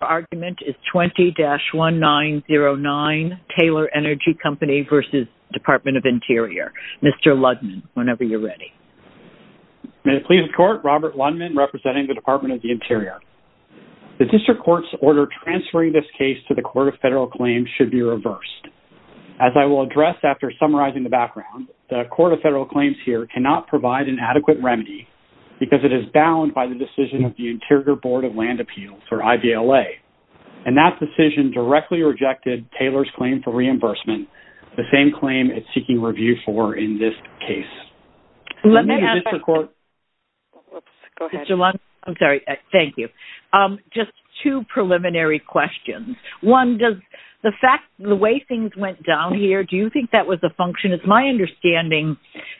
The argument is 20-1909, Taylor Energy Company v. Department of Interior. Mr. Ludman, whenever you're ready. May it please the Court, Robert Ludman, representing the Department of the Interior. The District Court's order transferring this case to the Court of Federal Claims should be reversed. As I will address after summarizing the background, the Court of Federal Claims here cannot provide an adequate remedy because it is bound by the decision of the Interior Board of Land Appeals, or IVLA. And that decision directly rejected Taylor's claim for reimbursement, the same claim it's seeking review for in this case. Let me ask... Let me ask... Oops, go ahead. Mr. Ludman, I'm sorry. Thank you. Just two preliminary questions. One, does the fact, the way things went down here, do you think that was a function? And it's my understanding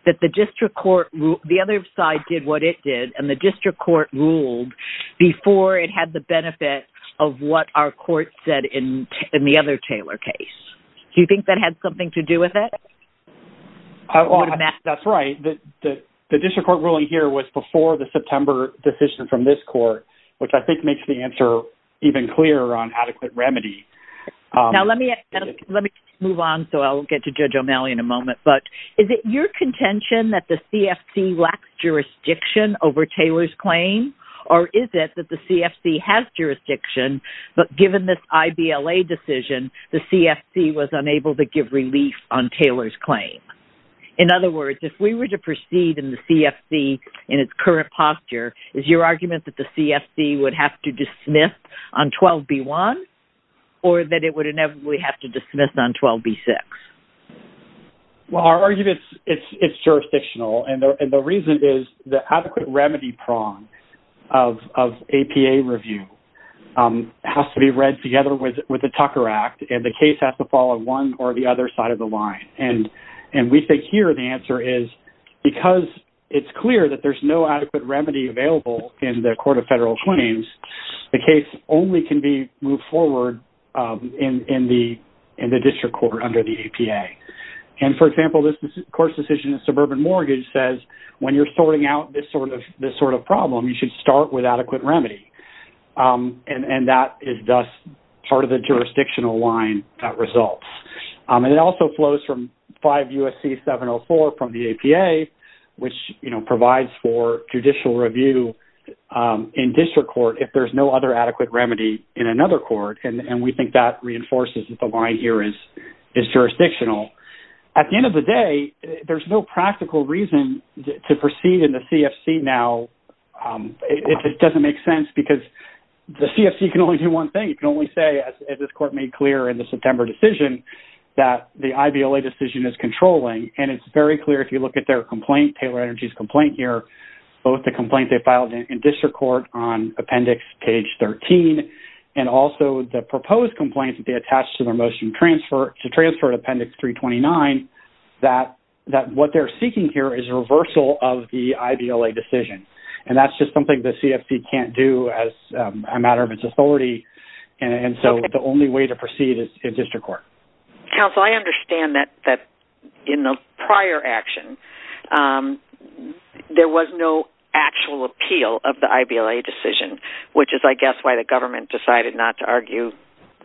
that the District Court, the other side did what it did, and the District Court ruled before it had the benefit of what our Court said in the other Taylor case. Do you think that had something to do with it? That's right. The District Court ruling here was before the September decision from this Court, which I think makes the answer even clearer on adequate remedy. Now, let me move on, so I'll get to Judge O'Malley in a moment. But is it your contention that the CFC lacks jurisdiction over Taylor's claim? Or is it that the CFC has jurisdiction, but given this IVLA decision, the CFC was unable to give relief on Taylor's claim? In other words, if we were to proceed in the CFC in its current posture, is your argument that the CFC would have to dismiss on 12B1, or that it would inevitably have to dismiss on 12B6? Well, our argument is it's jurisdictional, and the reason is the adequate remedy prong of APA review has to be read together with the Tucker Act, and the case has to fall on one or the other side of the line. And we think here the answer is, because it's clear that there's no adequate remedy available in the Court of Federal Claims, the case only can be moved forward in the District Court under the APA. And, for example, this Court's decision in suburban mortgage says, when you're sorting out this sort of problem, you should start with adequate remedy. And that is thus part of the jurisdictional line that results. And it also flows from 5 U.S.C. 704 from the APA, which provides for judicial review in District Court if there's no other adequate remedy in another court, and we think that reinforces that the line here is jurisdictional. At the end of the day, there's no practical reason to proceed in the CFC now. It doesn't make sense because the CFC can only do one thing. You can only say, as this Court made clear in the September decision, that the IVLA decision is controlling, and it's very clear if you look at their complaint, Taylor Energy's complaint here, both the complaint they filed in District Court on Appendix Page 13 and also the proposed complaint that they attached to their motion to transfer to Appendix 329, that what they're seeking here is a reversal of the IVLA decision. And that's just something the CFC can't do as a matter of its authority, and so the only way to proceed is in District Court. Counsel, I understand that in the prior action, there was no actual appeal of the IVLA decision, which is, I guess, why the government decided not to argue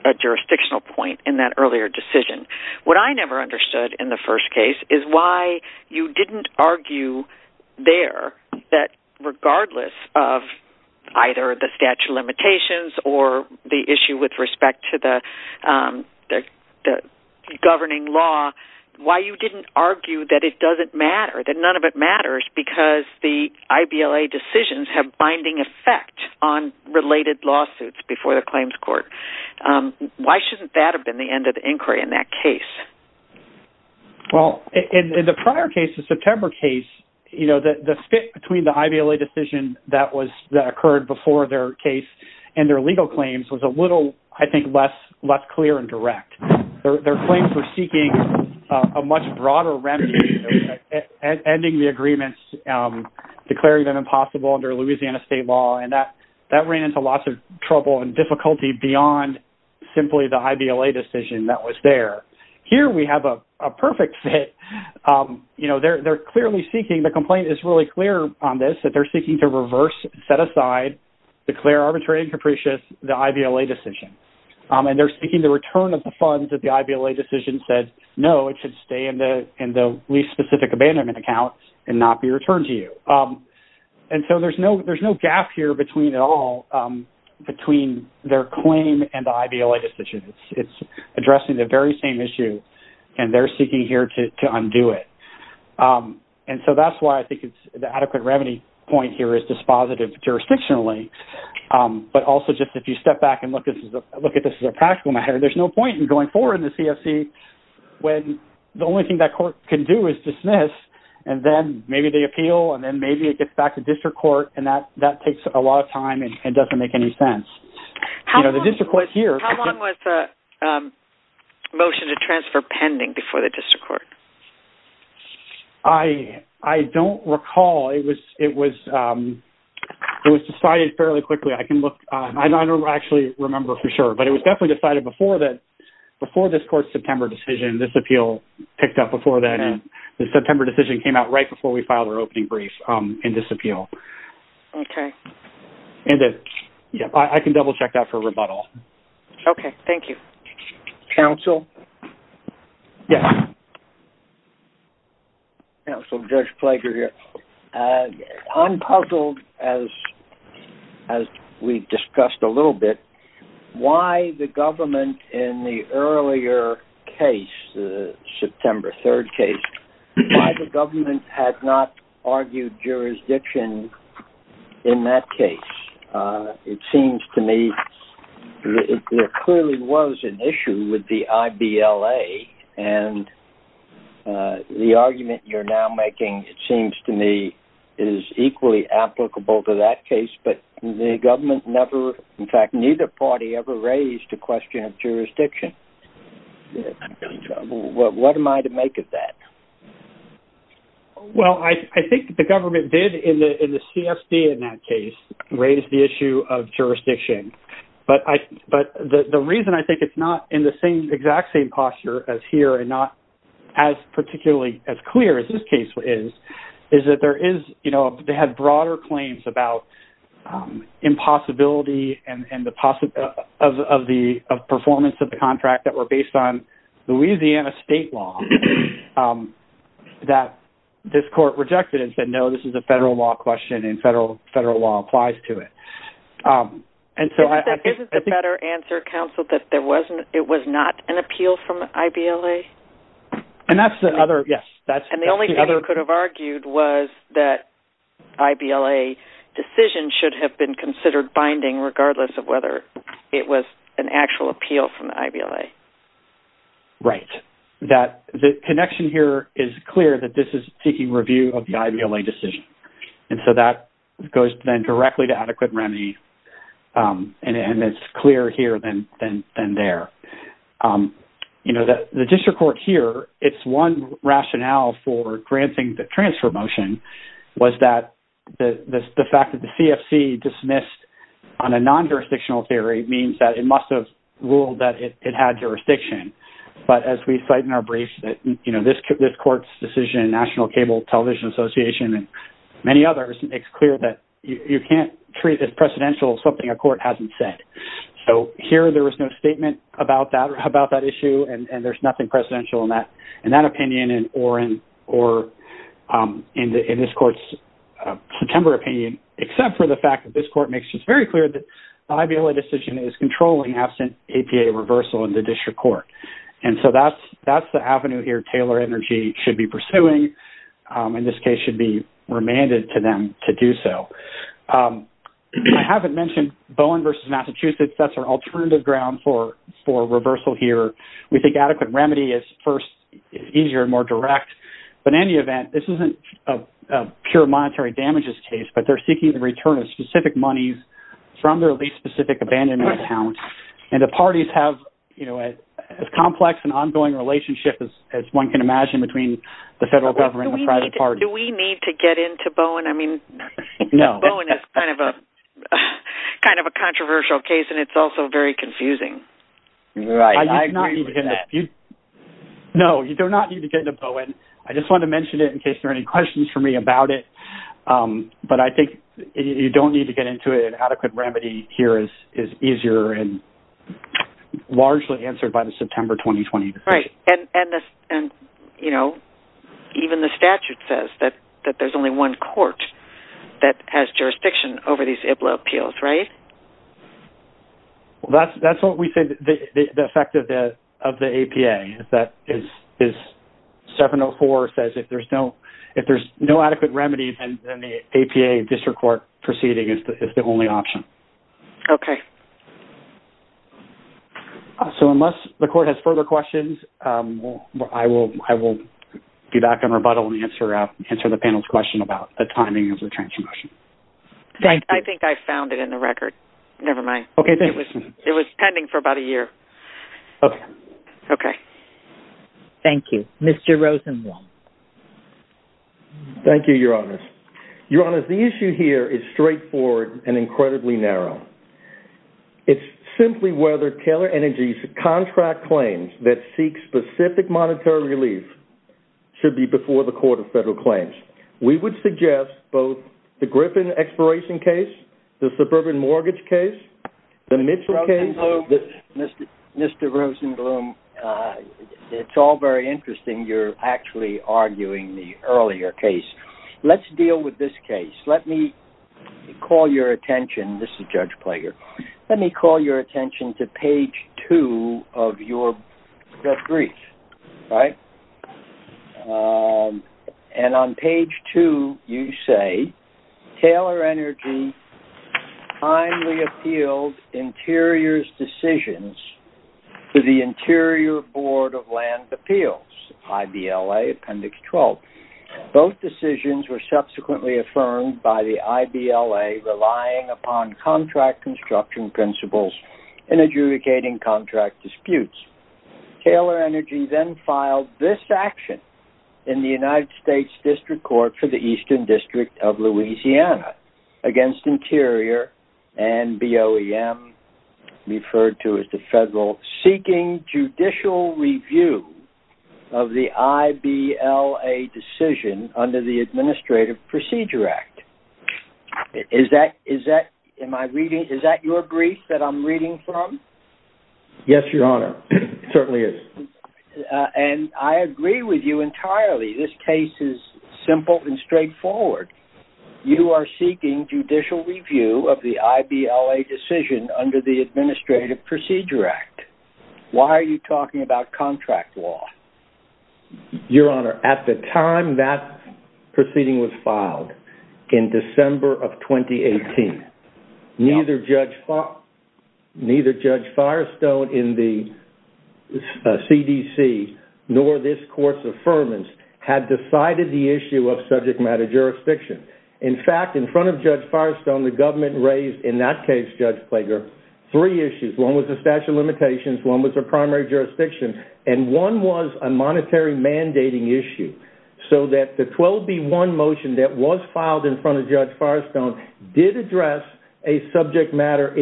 a jurisdictional point in that earlier decision. What I never understood in the first case is why you didn't argue there that, regardless of either the statute of limitations or the issue with respect to the governing law, why you didn't argue that it doesn't matter, that none of it matters, because the IVLA decisions have binding effect on related lawsuits before the claims court. Why shouldn't that have been the end of the inquiry in that case? Well, in the prior case, the September case, the split between the IVLA decision that occurred before their case and their legal claims was a little, I think, less clear and direct. Their claims were seeking a much broader remedy, ending the agreements, declaring them impossible under Louisiana state law, and that ran into lots of trouble and difficulty beyond simply the IVLA decision that was there. Here we have a perfect fit. They're clearly seeking, the complaint is really clear on this, that they're seeking to reverse, set aside, declare arbitrary and capricious the IVLA decision, and they're seeking the return of the funds that the IVLA decision said, no, it should stay in the lease-specific abandonment account and not be returned to you. And so there's no gap here at all between their claim and the IVLA decision. It's addressing the very same issue, and they're seeking here to undo it. And so that's why I think the adequate remedy point here is dispositive jurisdictionally, but also just if you step back and look at this as a practical matter, there's no point in going forward in the CFC when the only thing that court can do is dismiss, and then maybe they appeal, and then maybe it gets back to district court, and that takes a lot of time and doesn't make any sense. How long was the motion to transfer pending before the district court? I don't recall. It was decided fairly quickly. I don't actually remember for sure, but it was definitely decided before this court's September decision. This appeal picked up before then, and the September decision came out right before we filed our opening brief in this appeal. Okay. And I can double-check that for rebuttal. Okay, thank you. Counsel? Yes. Counsel, Judge Flaker here. I'm puzzled, as we've discussed a little bit, why the government in the earlier case, the September 3rd case, why the government had not argued jurisdiction in that case. It seems to me there clearly was an issue with the IBLA, and the argument you're now making, it seems to me, is equally applicable to that case, but the government never, in fact, neither party ever raised the question of jurisdiction. What am I to make of that? Well, I think the government did in the CSB in that case raise the issue of jurisdiction, but the reason I think it's not in the exact same posture as here and not as particularly as clear as this case is, is that they had broader claims about impossibility of performance of the contract that were based on Louisiana state law that this court rejected and said, no, this is a federal law question and federal law applies to it. Isn't the better answer, Counsel, that it was not an appeal from the IBLA? And that's the other, yes. And the only thing you could have argued was that IBLA decisions should have been considered binding regardless of whether it was an actual appeal from the IBLA. Right. The connection here is clear that this is seeking review of the IBLA decision, and so that goes then directly to adequate remedy, and it's clearer here than there. The district court here, it's one rationale for granting the transfer motion was that the fact that the CFC dismissed on a non-jurisdictional theory means that it must have ruled that it had jurisdiction. But as we cite in our brief that this court's decision, National Cable Television Association and many others, it's clear that you can't treat as precedential something a court hasn't said. So here there was no statement about that issue, and there's nothing precedential in that opinion or in this court's September opinion except for the fact that this court makes it very clear that the IBLA decision is controlling absent APA reversal in the district court. And so that's the avenue here Taylor Energy should be pursuing, and this case should be remanded to them to do so. I haven't mentioned Bowen v. Massachusetts. That's our alternative ground for reversal here. We think adequate remedy is easier and more direct. But in any event, this isn't a pure monetary damages case, but they're seeking the return of specific monies from their lease-specific abandonment account, and the parties have as complex an ongoing relationship as one can imagine between the federal government and the private party. Do we need to get into Bowen? I mean, Bowen is kind of a controversial case, and it's also very confusing. Right. I agree with that. No, you do not need to get into Bowen. I just wanted to mention it in case there are any questions for me about it. But I think you don't need to get into it. I think that adequate remedy here is easier and largely answered by the September 2020 decision. Right. And, you know, even the statute says that there's only one court that has jurisdiction over these IBLO appeals, right? Well, that's what we think the effect of the APA is 704 says if there's no adequate remedy, then the APA district court proceeding is the only option. Okay. So unless the court has further questions, I will be back in rebuttal and answer the panel's question about the timing of the transmission. I think I found it in the record. Never mind. Okay. It was pending for about a year. Okay. Okay. Thank you. Mr. Rosenwald. Thank you, Your Honors. Your Honors, the issue here is straightforward and incredibly narrow. It's simply whether Taylor Energy's contract claims that seek specific monetary relief should be before the Court of Federal Claims. We would suggest both the Griffin expiration case, the suburban mortgage case, the Mitchell case. Mr. Rosenblum, it's all very interesting. You're actually arguing the earlier case. Let's deal with this case. Let me call your attention. This is Judge Plager. Let me call your attention to page two of your brief, right? And on page two, you say, Taylor Energy kindly appealed Interior's decisions to the Interior Board of Land Appeals, IBLA Appendix 12. Both decisions were subsequently affirmed by the IBLA relying upon contract construction principles in adjudicating contract disputes. Taylor Energy then filed this action in the United States District Court for the Eastern District of Louisiana against Interior and BOEM, referred to as the Federal Seeking Judicial Review of the IBLA decision under the Administrative Procedure Act. Is that your brief that I'm reading from? Yes, Your Honor. It certainly is. And I agree with you entirely. This case is simple and straightforward. You are seeking judicial review of the IBLA decision under the Administrative Procedure Act. Why are you talking about contract law? Your Honor, at the time that proceeding was filed, in December of 2018, neither Judge Firestone in the CDC nor this Court's affirmance had decided the issue of subject matter jurisdiction. In fact, in front of Judge Firestone, the government raised in that case, Judge Plager, three issues. One was the statute of limitations, one was the primary jurisdiction, and one was a monetary mandating issue. So that the 12B1 motion that was filed in front of Judge Firestone did address a subject matter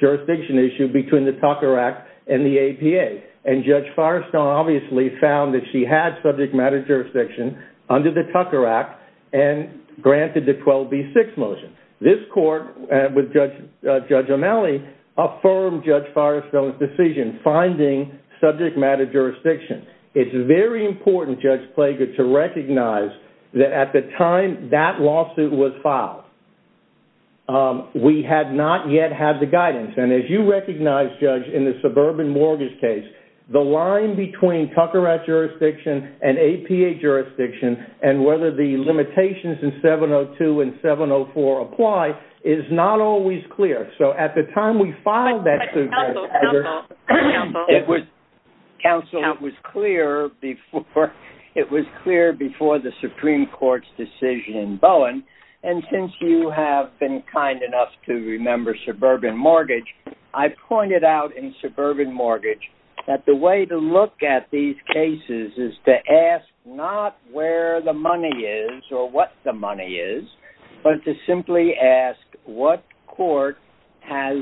jurisdiction issue between the Tucker Act and the APA. And Judge Firestone obviously found that she had subject matter jurisdiction under the Tucker Act and granted the 12B6 motion. This Court, with Judge O'Malley, affirmed Judge Firestone's decision, finding subject matter jurisdiction. It's very important, Judge Plager, to recognize that at the time that lawsuit was filed, we had not yet had the guidance. And as you recognize, Judge, in the suburban mortgage case, the line between Tucker Act jurisdiction and APA jurisdiction and whether the limitations in 702 and 704 apply is not always clear. Counsel, it was clear before the Supreme Court's decision in Bowen, and since you have been kind enough to remember suburban mortgage, I've pointed out in suburban mortgage that the way to look at these cases is to ask not where the money is or what the money is, but to simply ask what court has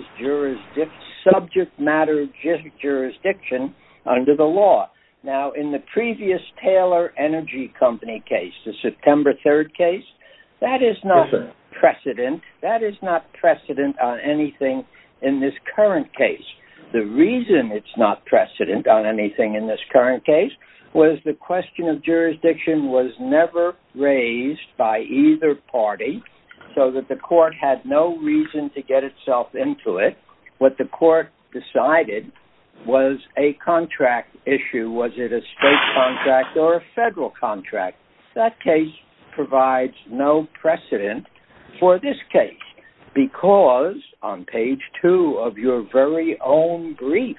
subject matter jurisdiction under the law. Now, in the previous Taylor Energy Company case, the September 3rd case, that is not precedent. That is not precedent on anything in this current case. The reason it's not precedent on anything in this current case was the question of jurisdiction was never raised by either party so that the court had no reason to get itself into it. What the court decided was a contract issue. Was it a state contract or a federal contract? That case provides no precedent for this case because on page two of your very own brief,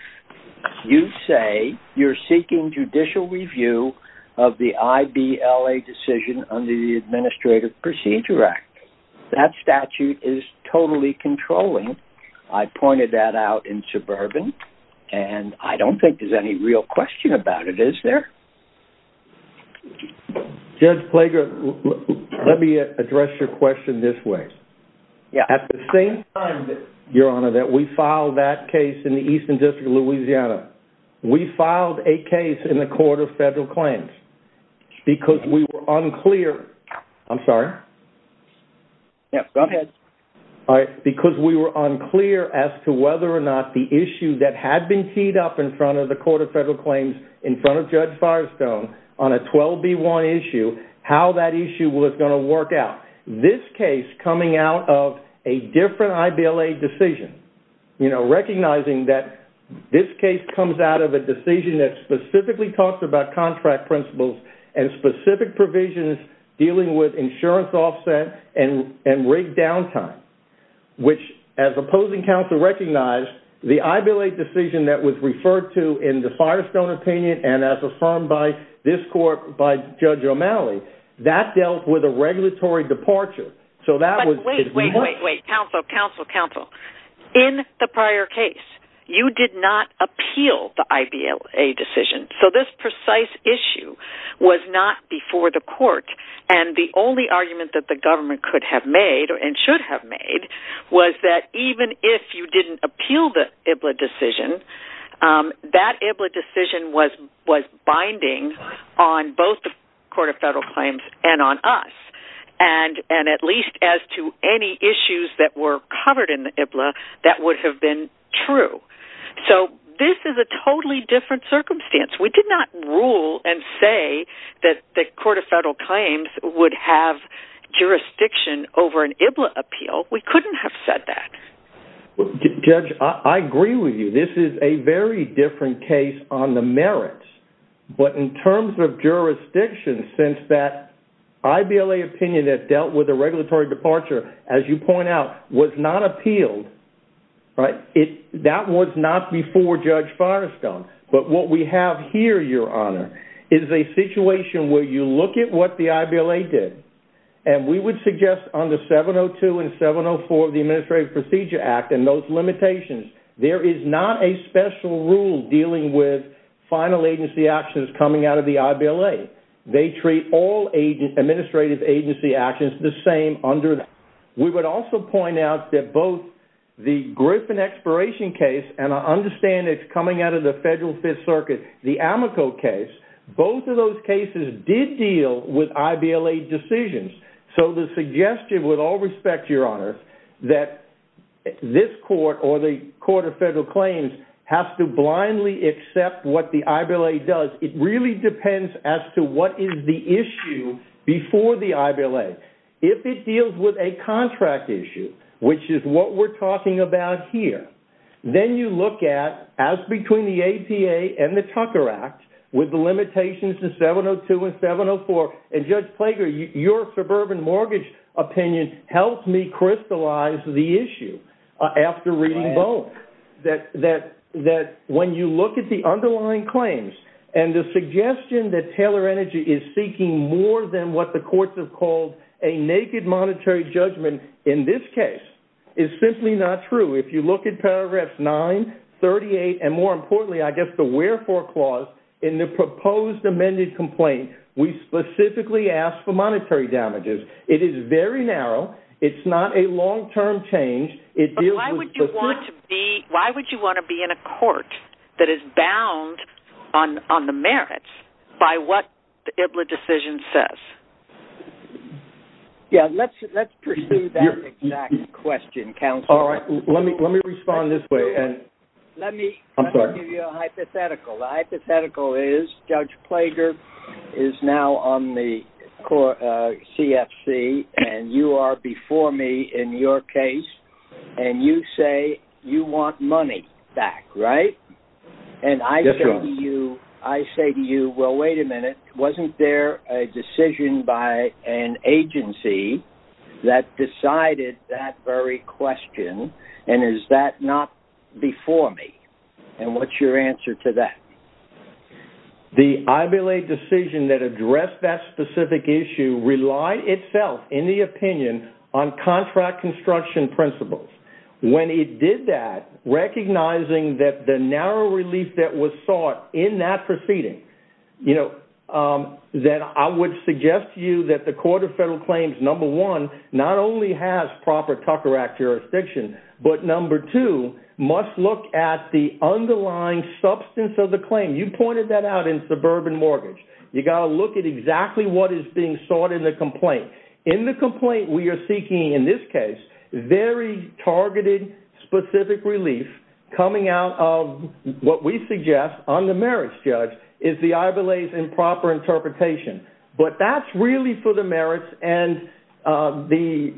you say you're seeking judicial review of the IBLA decision under the Administrative Procedure Act. That statute is totally controlling. I pointed that out in suburban, and I don't think there's any real question about it, is there? Judge Plager, let me address your question this way. At the same time, Your Honor, that we filed that case in the Eastern District of Louisiana, we filed a case in the Court of Federal Claims because we were unclear... I'm sorry? Yeah, go ahead. Because we were unclear as to whether or not the issue that had been teed up in front of the Court of Federal Claims in front of Judge Firestone on a 12B1 issue, how that issue was going to work out. This case coming out of a different IBLA decision, recognizing that this case comes out of a decision that specifically talks about contract principles and specific provisions dealing with insurance offset and rate downtime, which as opposing counsel recognized, the IBLA decision that was referred to in the Firestone opinion and as affirmed by this court by Judge O'Malley, that dealt with a regulatory departure. Wait, wait, wait, counsel, counsel, counsel. In the prior case, you did not appeal the IBLA decision. So this precise issue was not before the court, and the only argument that the government could have made and should have made was that even if you didn't appeal the IBLA decision, that IBLA decision was binding on both the Court of Federal Claims and on us, and at least as to any issues that were covered in the IBLA that would have been true. So this is a totally different circumstance. We did not rule and say that the Court of Federal Claims would have jurisdiction over an IBLA appeal. We couldn't have said that. Judge, I agree with you. This is a very different case on the merits, but in terms of jurisdiction, since that IBLA opinion that dealt with a regulatory departure, as you point out, was not appealed, that was not before Judge Firestone. But what we have here, Your Honor, is a situation where you look at what the IBLA did, and we would suggest under 702 and 704 of the Administrative Procedure Act and those limitations, there is not a special rule dealing with final agency actions coming out of the IBLA. They treat all administrative agency actions the same under that. We would also point out that both the Griffin expiration case, and I understand it's coming out of the Federal Fifth Circuit, the Amico case, both of those cases did deal with IBLA decisions. So the suggestion, with all respect, Your Honor, that this Court or the Court of Federal Claims has to blindly accept what the IBLA does, it really depends as to what is the issue before the IBLA. If it deals with a contract issue, which is what we're talking about here, then you look at, as between the APA and the Tucker Act, with the limitations to 702 and 704, and Judge Plager, your suburban mortgage opinion helped me crystallize the issue after reading both, that when you look at the underlying claims and the suggestion that Taylor Energy is seeking more than what the courts have called a naked monetary judgment in this case, is simply not true. If you look at paragraphs 9, 38, and more importantly, I guess the wherefore clause in the proposed amended complaint, we specifically ask for monetary damages. It is very narrow. It's not a long-term change. But why would you want to be in a court that is bound on the merits by what the IBLA decision says? Yeah, let's pursue that exact question, counsel. All right, let me respond this way. Let me give you a hypothetical. The hypothetical is Judge Plager is now on the CFC, and you are before me in your case, and you say you want money back, right? And I say to you, well, wait a minute, wasn't there a decision by an agency that decided that very question, and is that not before me? And what's your answer to that? The IBLA decision that addressed that specific issue relied itself, in the opinion, on contract construction principles. When it did that, recognizing that the narrow relief that was sought in that proceeding, that I would suggest to you that the Court of Federal Claims, number one, not only has proper Tucker Act jurisdiction, but number two, must look at the underlying substance of the claim. You pointed that out in suburban mortgage. You got to look at exactly what is being sought in the complaint. In the complaint, we are seeking, in this case, very targeted, specific relief coming out of what we suggest, on the merits, Judge, is the IBLA's improper interpretation. But that's really for the merits, and the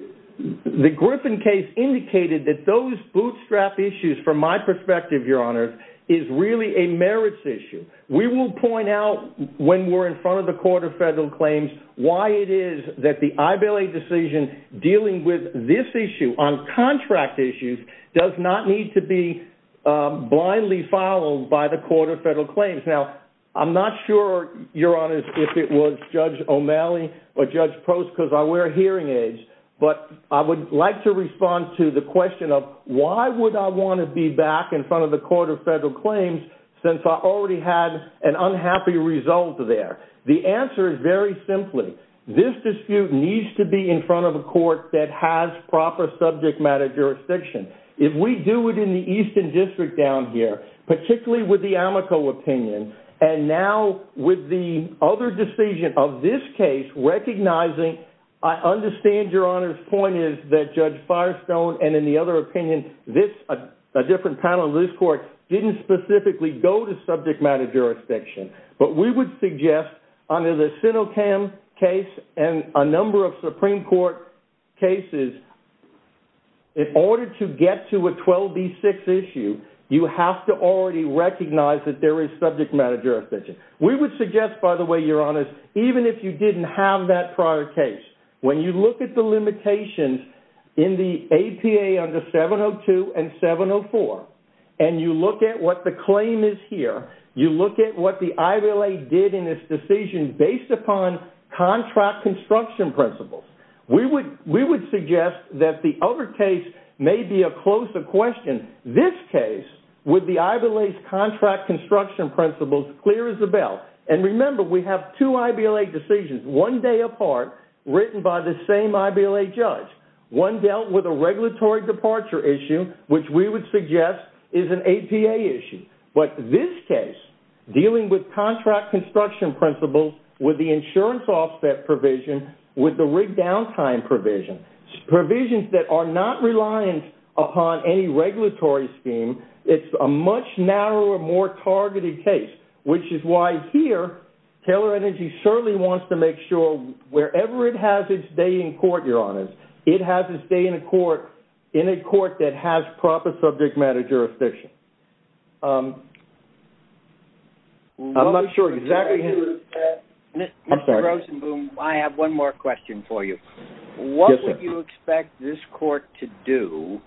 Griffin case indicated that those bootstrap issues, from my perspective, Your Honor, is really a merits issue. We will point out, when we're in front of the Court of Federal Claims, why it is that the IBLA decision dealing with this issue, on contract issues, does not need to be blindly followed by the Court of Federal Claims. Now, I'm not sure, Your Honor, if it was Judge O'Malley or Judge Post, because I wear hearing aids, but I would like to respond to the question of why would I want to be back in front of the Court of Federal Claims, since I already had an unhappy result there. The answer is very simply, this dispute needs to be in front of a court that has proper subject matter jurisdiction. If we do it in the Eastern District down here, particularly with the Amoco opinion, and now, with the other decision of this case, recognizing, I understand, Your Honor's point is, that Judge Firestone and, in the other opinion, a different panel of this Court, didn't specifically go to subject matter jurisdiction. But we would suggest, under the SINOCAM case, and a number of Supreme Court cases, in order to get to a 12B6 issue, you have to already recognize that there is subject matter jurisdiction. We would suggest, by the way, Your Honor, even if you didn't have that prior case, when you look at the limitations in the APA under 702 and 704, and you look at what the claim is here, you look at what the IBLA did in this decision based upon contract construction principles, we would suggest that the other case may be a closer question. This case, with the IBLA's contract construction principles, clear as a bell. And remember, we have two IBLA decisions, one day apart, written by the same IBLA judge. One dealt with a regulatory departure issue, which we would suggest is an APA issue. But this case, dealing with contract construction principles, with the insurance offset provision, with the rigged downtime provision, provisions that are not reliant upon any regulatory scheme, it's a much narrower, more targeted case, which is why here, Taylor Energy certainly wants to make sure, wherever it has its day in court, Your Honor, it has its day in a court that has proper subject matter jurisdiction. I'm not sure exactly how... Mr. Rosenboom, I have one more question for you. What would you expect this court to do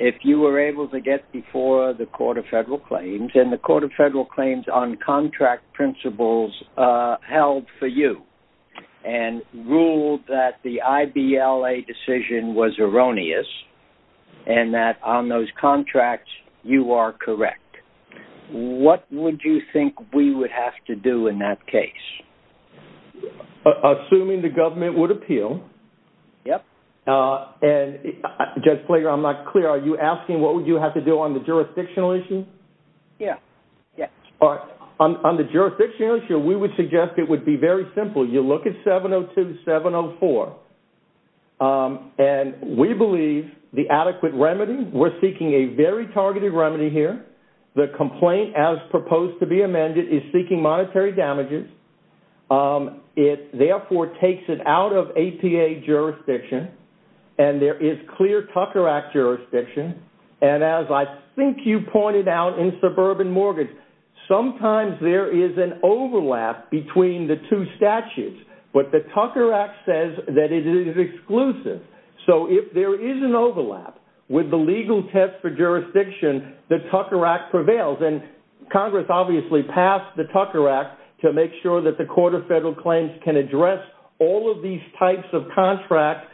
if you were able to get before the Court of Federal Claims, and the Court of Federal Claims on contract principles, held for you, and ruled that the IBLA decision was erroneous, and that on those contracts, you are correct? What would you think we would have to do in that case? Assuming the government would appeal. Yep. Judge Flager, I'm not clear. Are you asking what would you have to do on the jurisdictional issue? Yeah. On the jurisdictional issue, we would suggest it would be very simple. You look at 702.704, and we believe the adequate remedy, we're seeking a very targeted remedy here. The complaint, as proposed to be amended, is seeking monetary damages. It, therefore, takes it out of APA jurisdiction, and there is clear Tucker Act jurisdiction, and as I think you pointed out in Suburban Mortgage, sometimes there is an overlap between the two statutes, but the Tucker Act says that it is exclusive. So if there is an overlap with the legal test for jurisdiction, the Tucker Act prevails, and Congress obviously passed the Tucker Act to make sure that the Court of Federal Claims can address all of these types of contract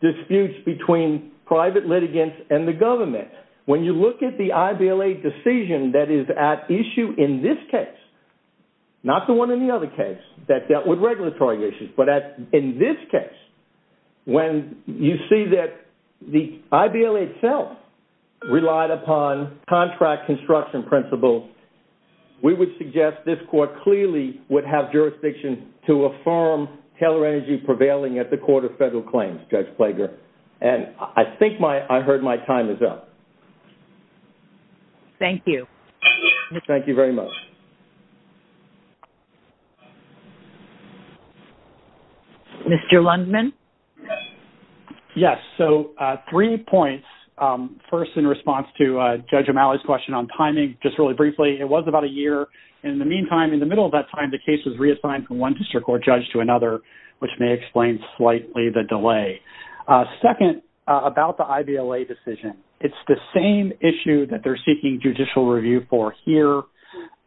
disputes between private litigants and the government. When you look at the IBLA decision that is at issue in this case, not the one in the other case that dealt with regulatory issues, but in this case, when you see that the IBLA itself relied upon contract construction principles, we would suggest this Court clearly would have jurisdiction to affirm Taylor Energy prevailing at the Court of Federal Claims, Judge Plager. And I think I heard my time is up. Thank you. Thank you very much. Mr. Lundman? Yes, so three points. First, in response to Judge O'Malley's question on timing, just really briefly, it was about a year. In the meantime, in the middle of that time, the case was reassigned from one district court judge to another, which may explain slightly the delay. Second, about the IBLA decision, it's the same issue that they're seeking judicial review for here.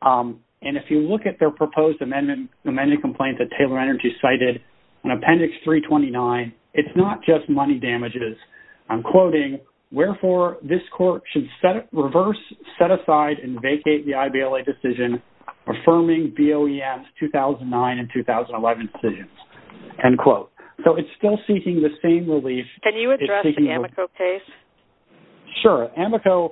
And if you look at their proposed amendment complaint that Taylor Energy cited in Appendix 329, it's not just money damages. I'm quoting, So, it's still seeking the same relief. Can you address the Amoco case? Sure. Amoco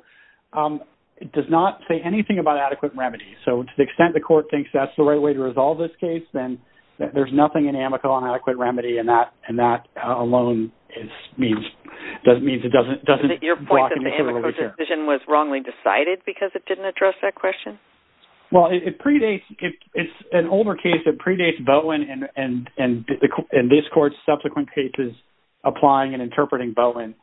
does not say anything about adequate remedy. So, to the extent the Court thinks that's the right way to resolve this case, then there's nothing in Amoco on adequate remedy, and that alone means it doesn't walk into the room with care. Your point that the Amoco decision was wrongly decided because it didn't address that question? Well, it's an older case that predates Bowen and this Court's subsequent cases applying and interpreting Bowen.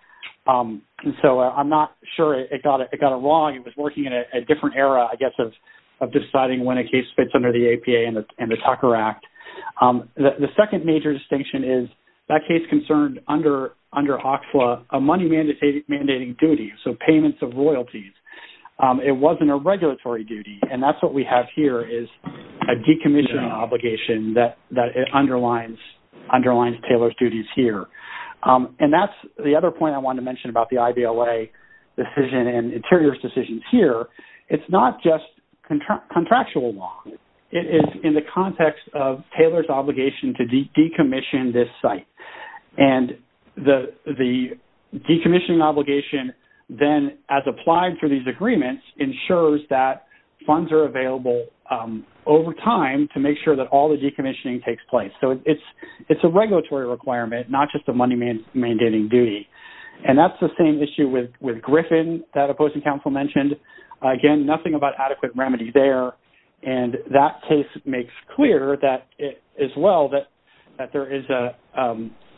So, I'm not sure it got it wrong. It was working in a different era, I guess, of deciding when a case fits under the APA and the Tucker Act. The second major distinction is that case concerned under OCFLA a money-mandating duty, so payments of royalties. It wasn't a regulatory duty, and that's what we have here is a decommissioning obligation that underlines Taylor's duties here. And that's the other point I wanted to mention about the IVLA decision and Interior's decisions here. It's not just contractual wrong. It is in the context of Taylor's obligation to decommission this site. And the decommissioning obligation then, as applied through these agreements, ensures that funds are available over time to make sure that all the decommissioning takes place. So, it's a regulatory requirement, not just a money-mandating duty. And that's the same issue with Griffin that opposing counsel mentioned. Again, nothing about adequate remedy there. And that case makes clear as well that there is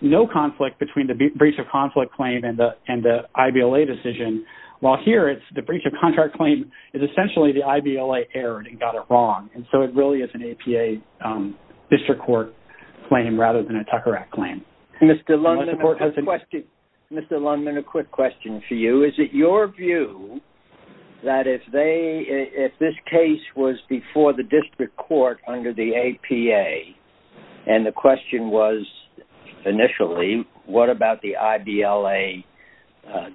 no conflict between the breach-of-conflict claim and the IVLA decision. While here, the breach-of-contract claim is essentially the IVLA error that got it wrong, and so it really is an APA district court claim rather than a Tucker Act claim. Mr. Lundman, a quick question for you. Is it your view that if this case was before the district court under the APA and the question was initially, what about the IVLA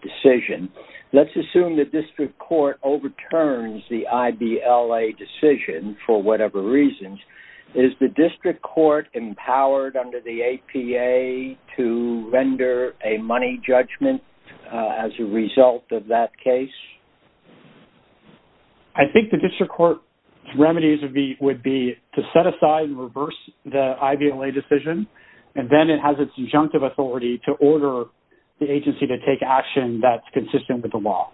decision? Let's assume the district court overturns the IVLA decision for whatever reasons. Is the district court empowered under the APA to render a money judgment as a result of that case? I think the district court's remedies would be to set aside and reverse the IVLA decision, and then it has its injunctive authority to order the agency to take action that's consistent with the law.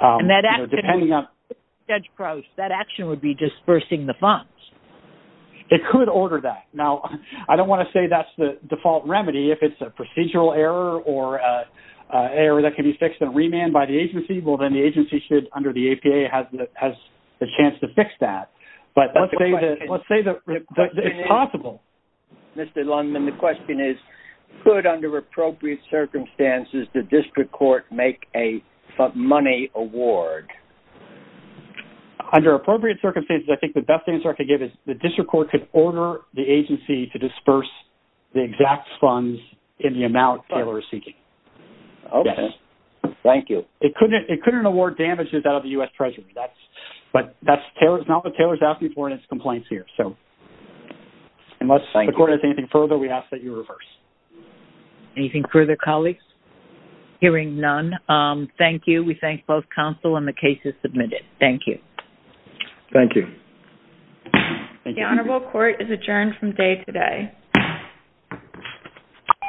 And that action, Judge Crouse, that action would be dispersing the funds. It could order that. Now, I don't want to say that's the default remedy. If it's a procedural error or an error that can be fixed and remanded by the agency, well, then the agency should, under the APA, has the chance to fix that. But let's say that it's possible. Mr. Lundman, the question is, could under appropriate circumstances the district court make a money award? Under appropriate circumstances, I think the best answer I could give is that the district court could order the agency to disperse the exact funds in the amount Taylor is seeking. Okay. Yes. Thank you. It couldn't award damages out of the U.S. Treasury. But that's not what Taylor's asking for in its complaints here. So unless the court has anything further, we ask that you reverse. Anything further, colleagues? Hearing none, thank you. We thank both counsel and the cases submitted. Thank you. The honorable court is adjourned from day today.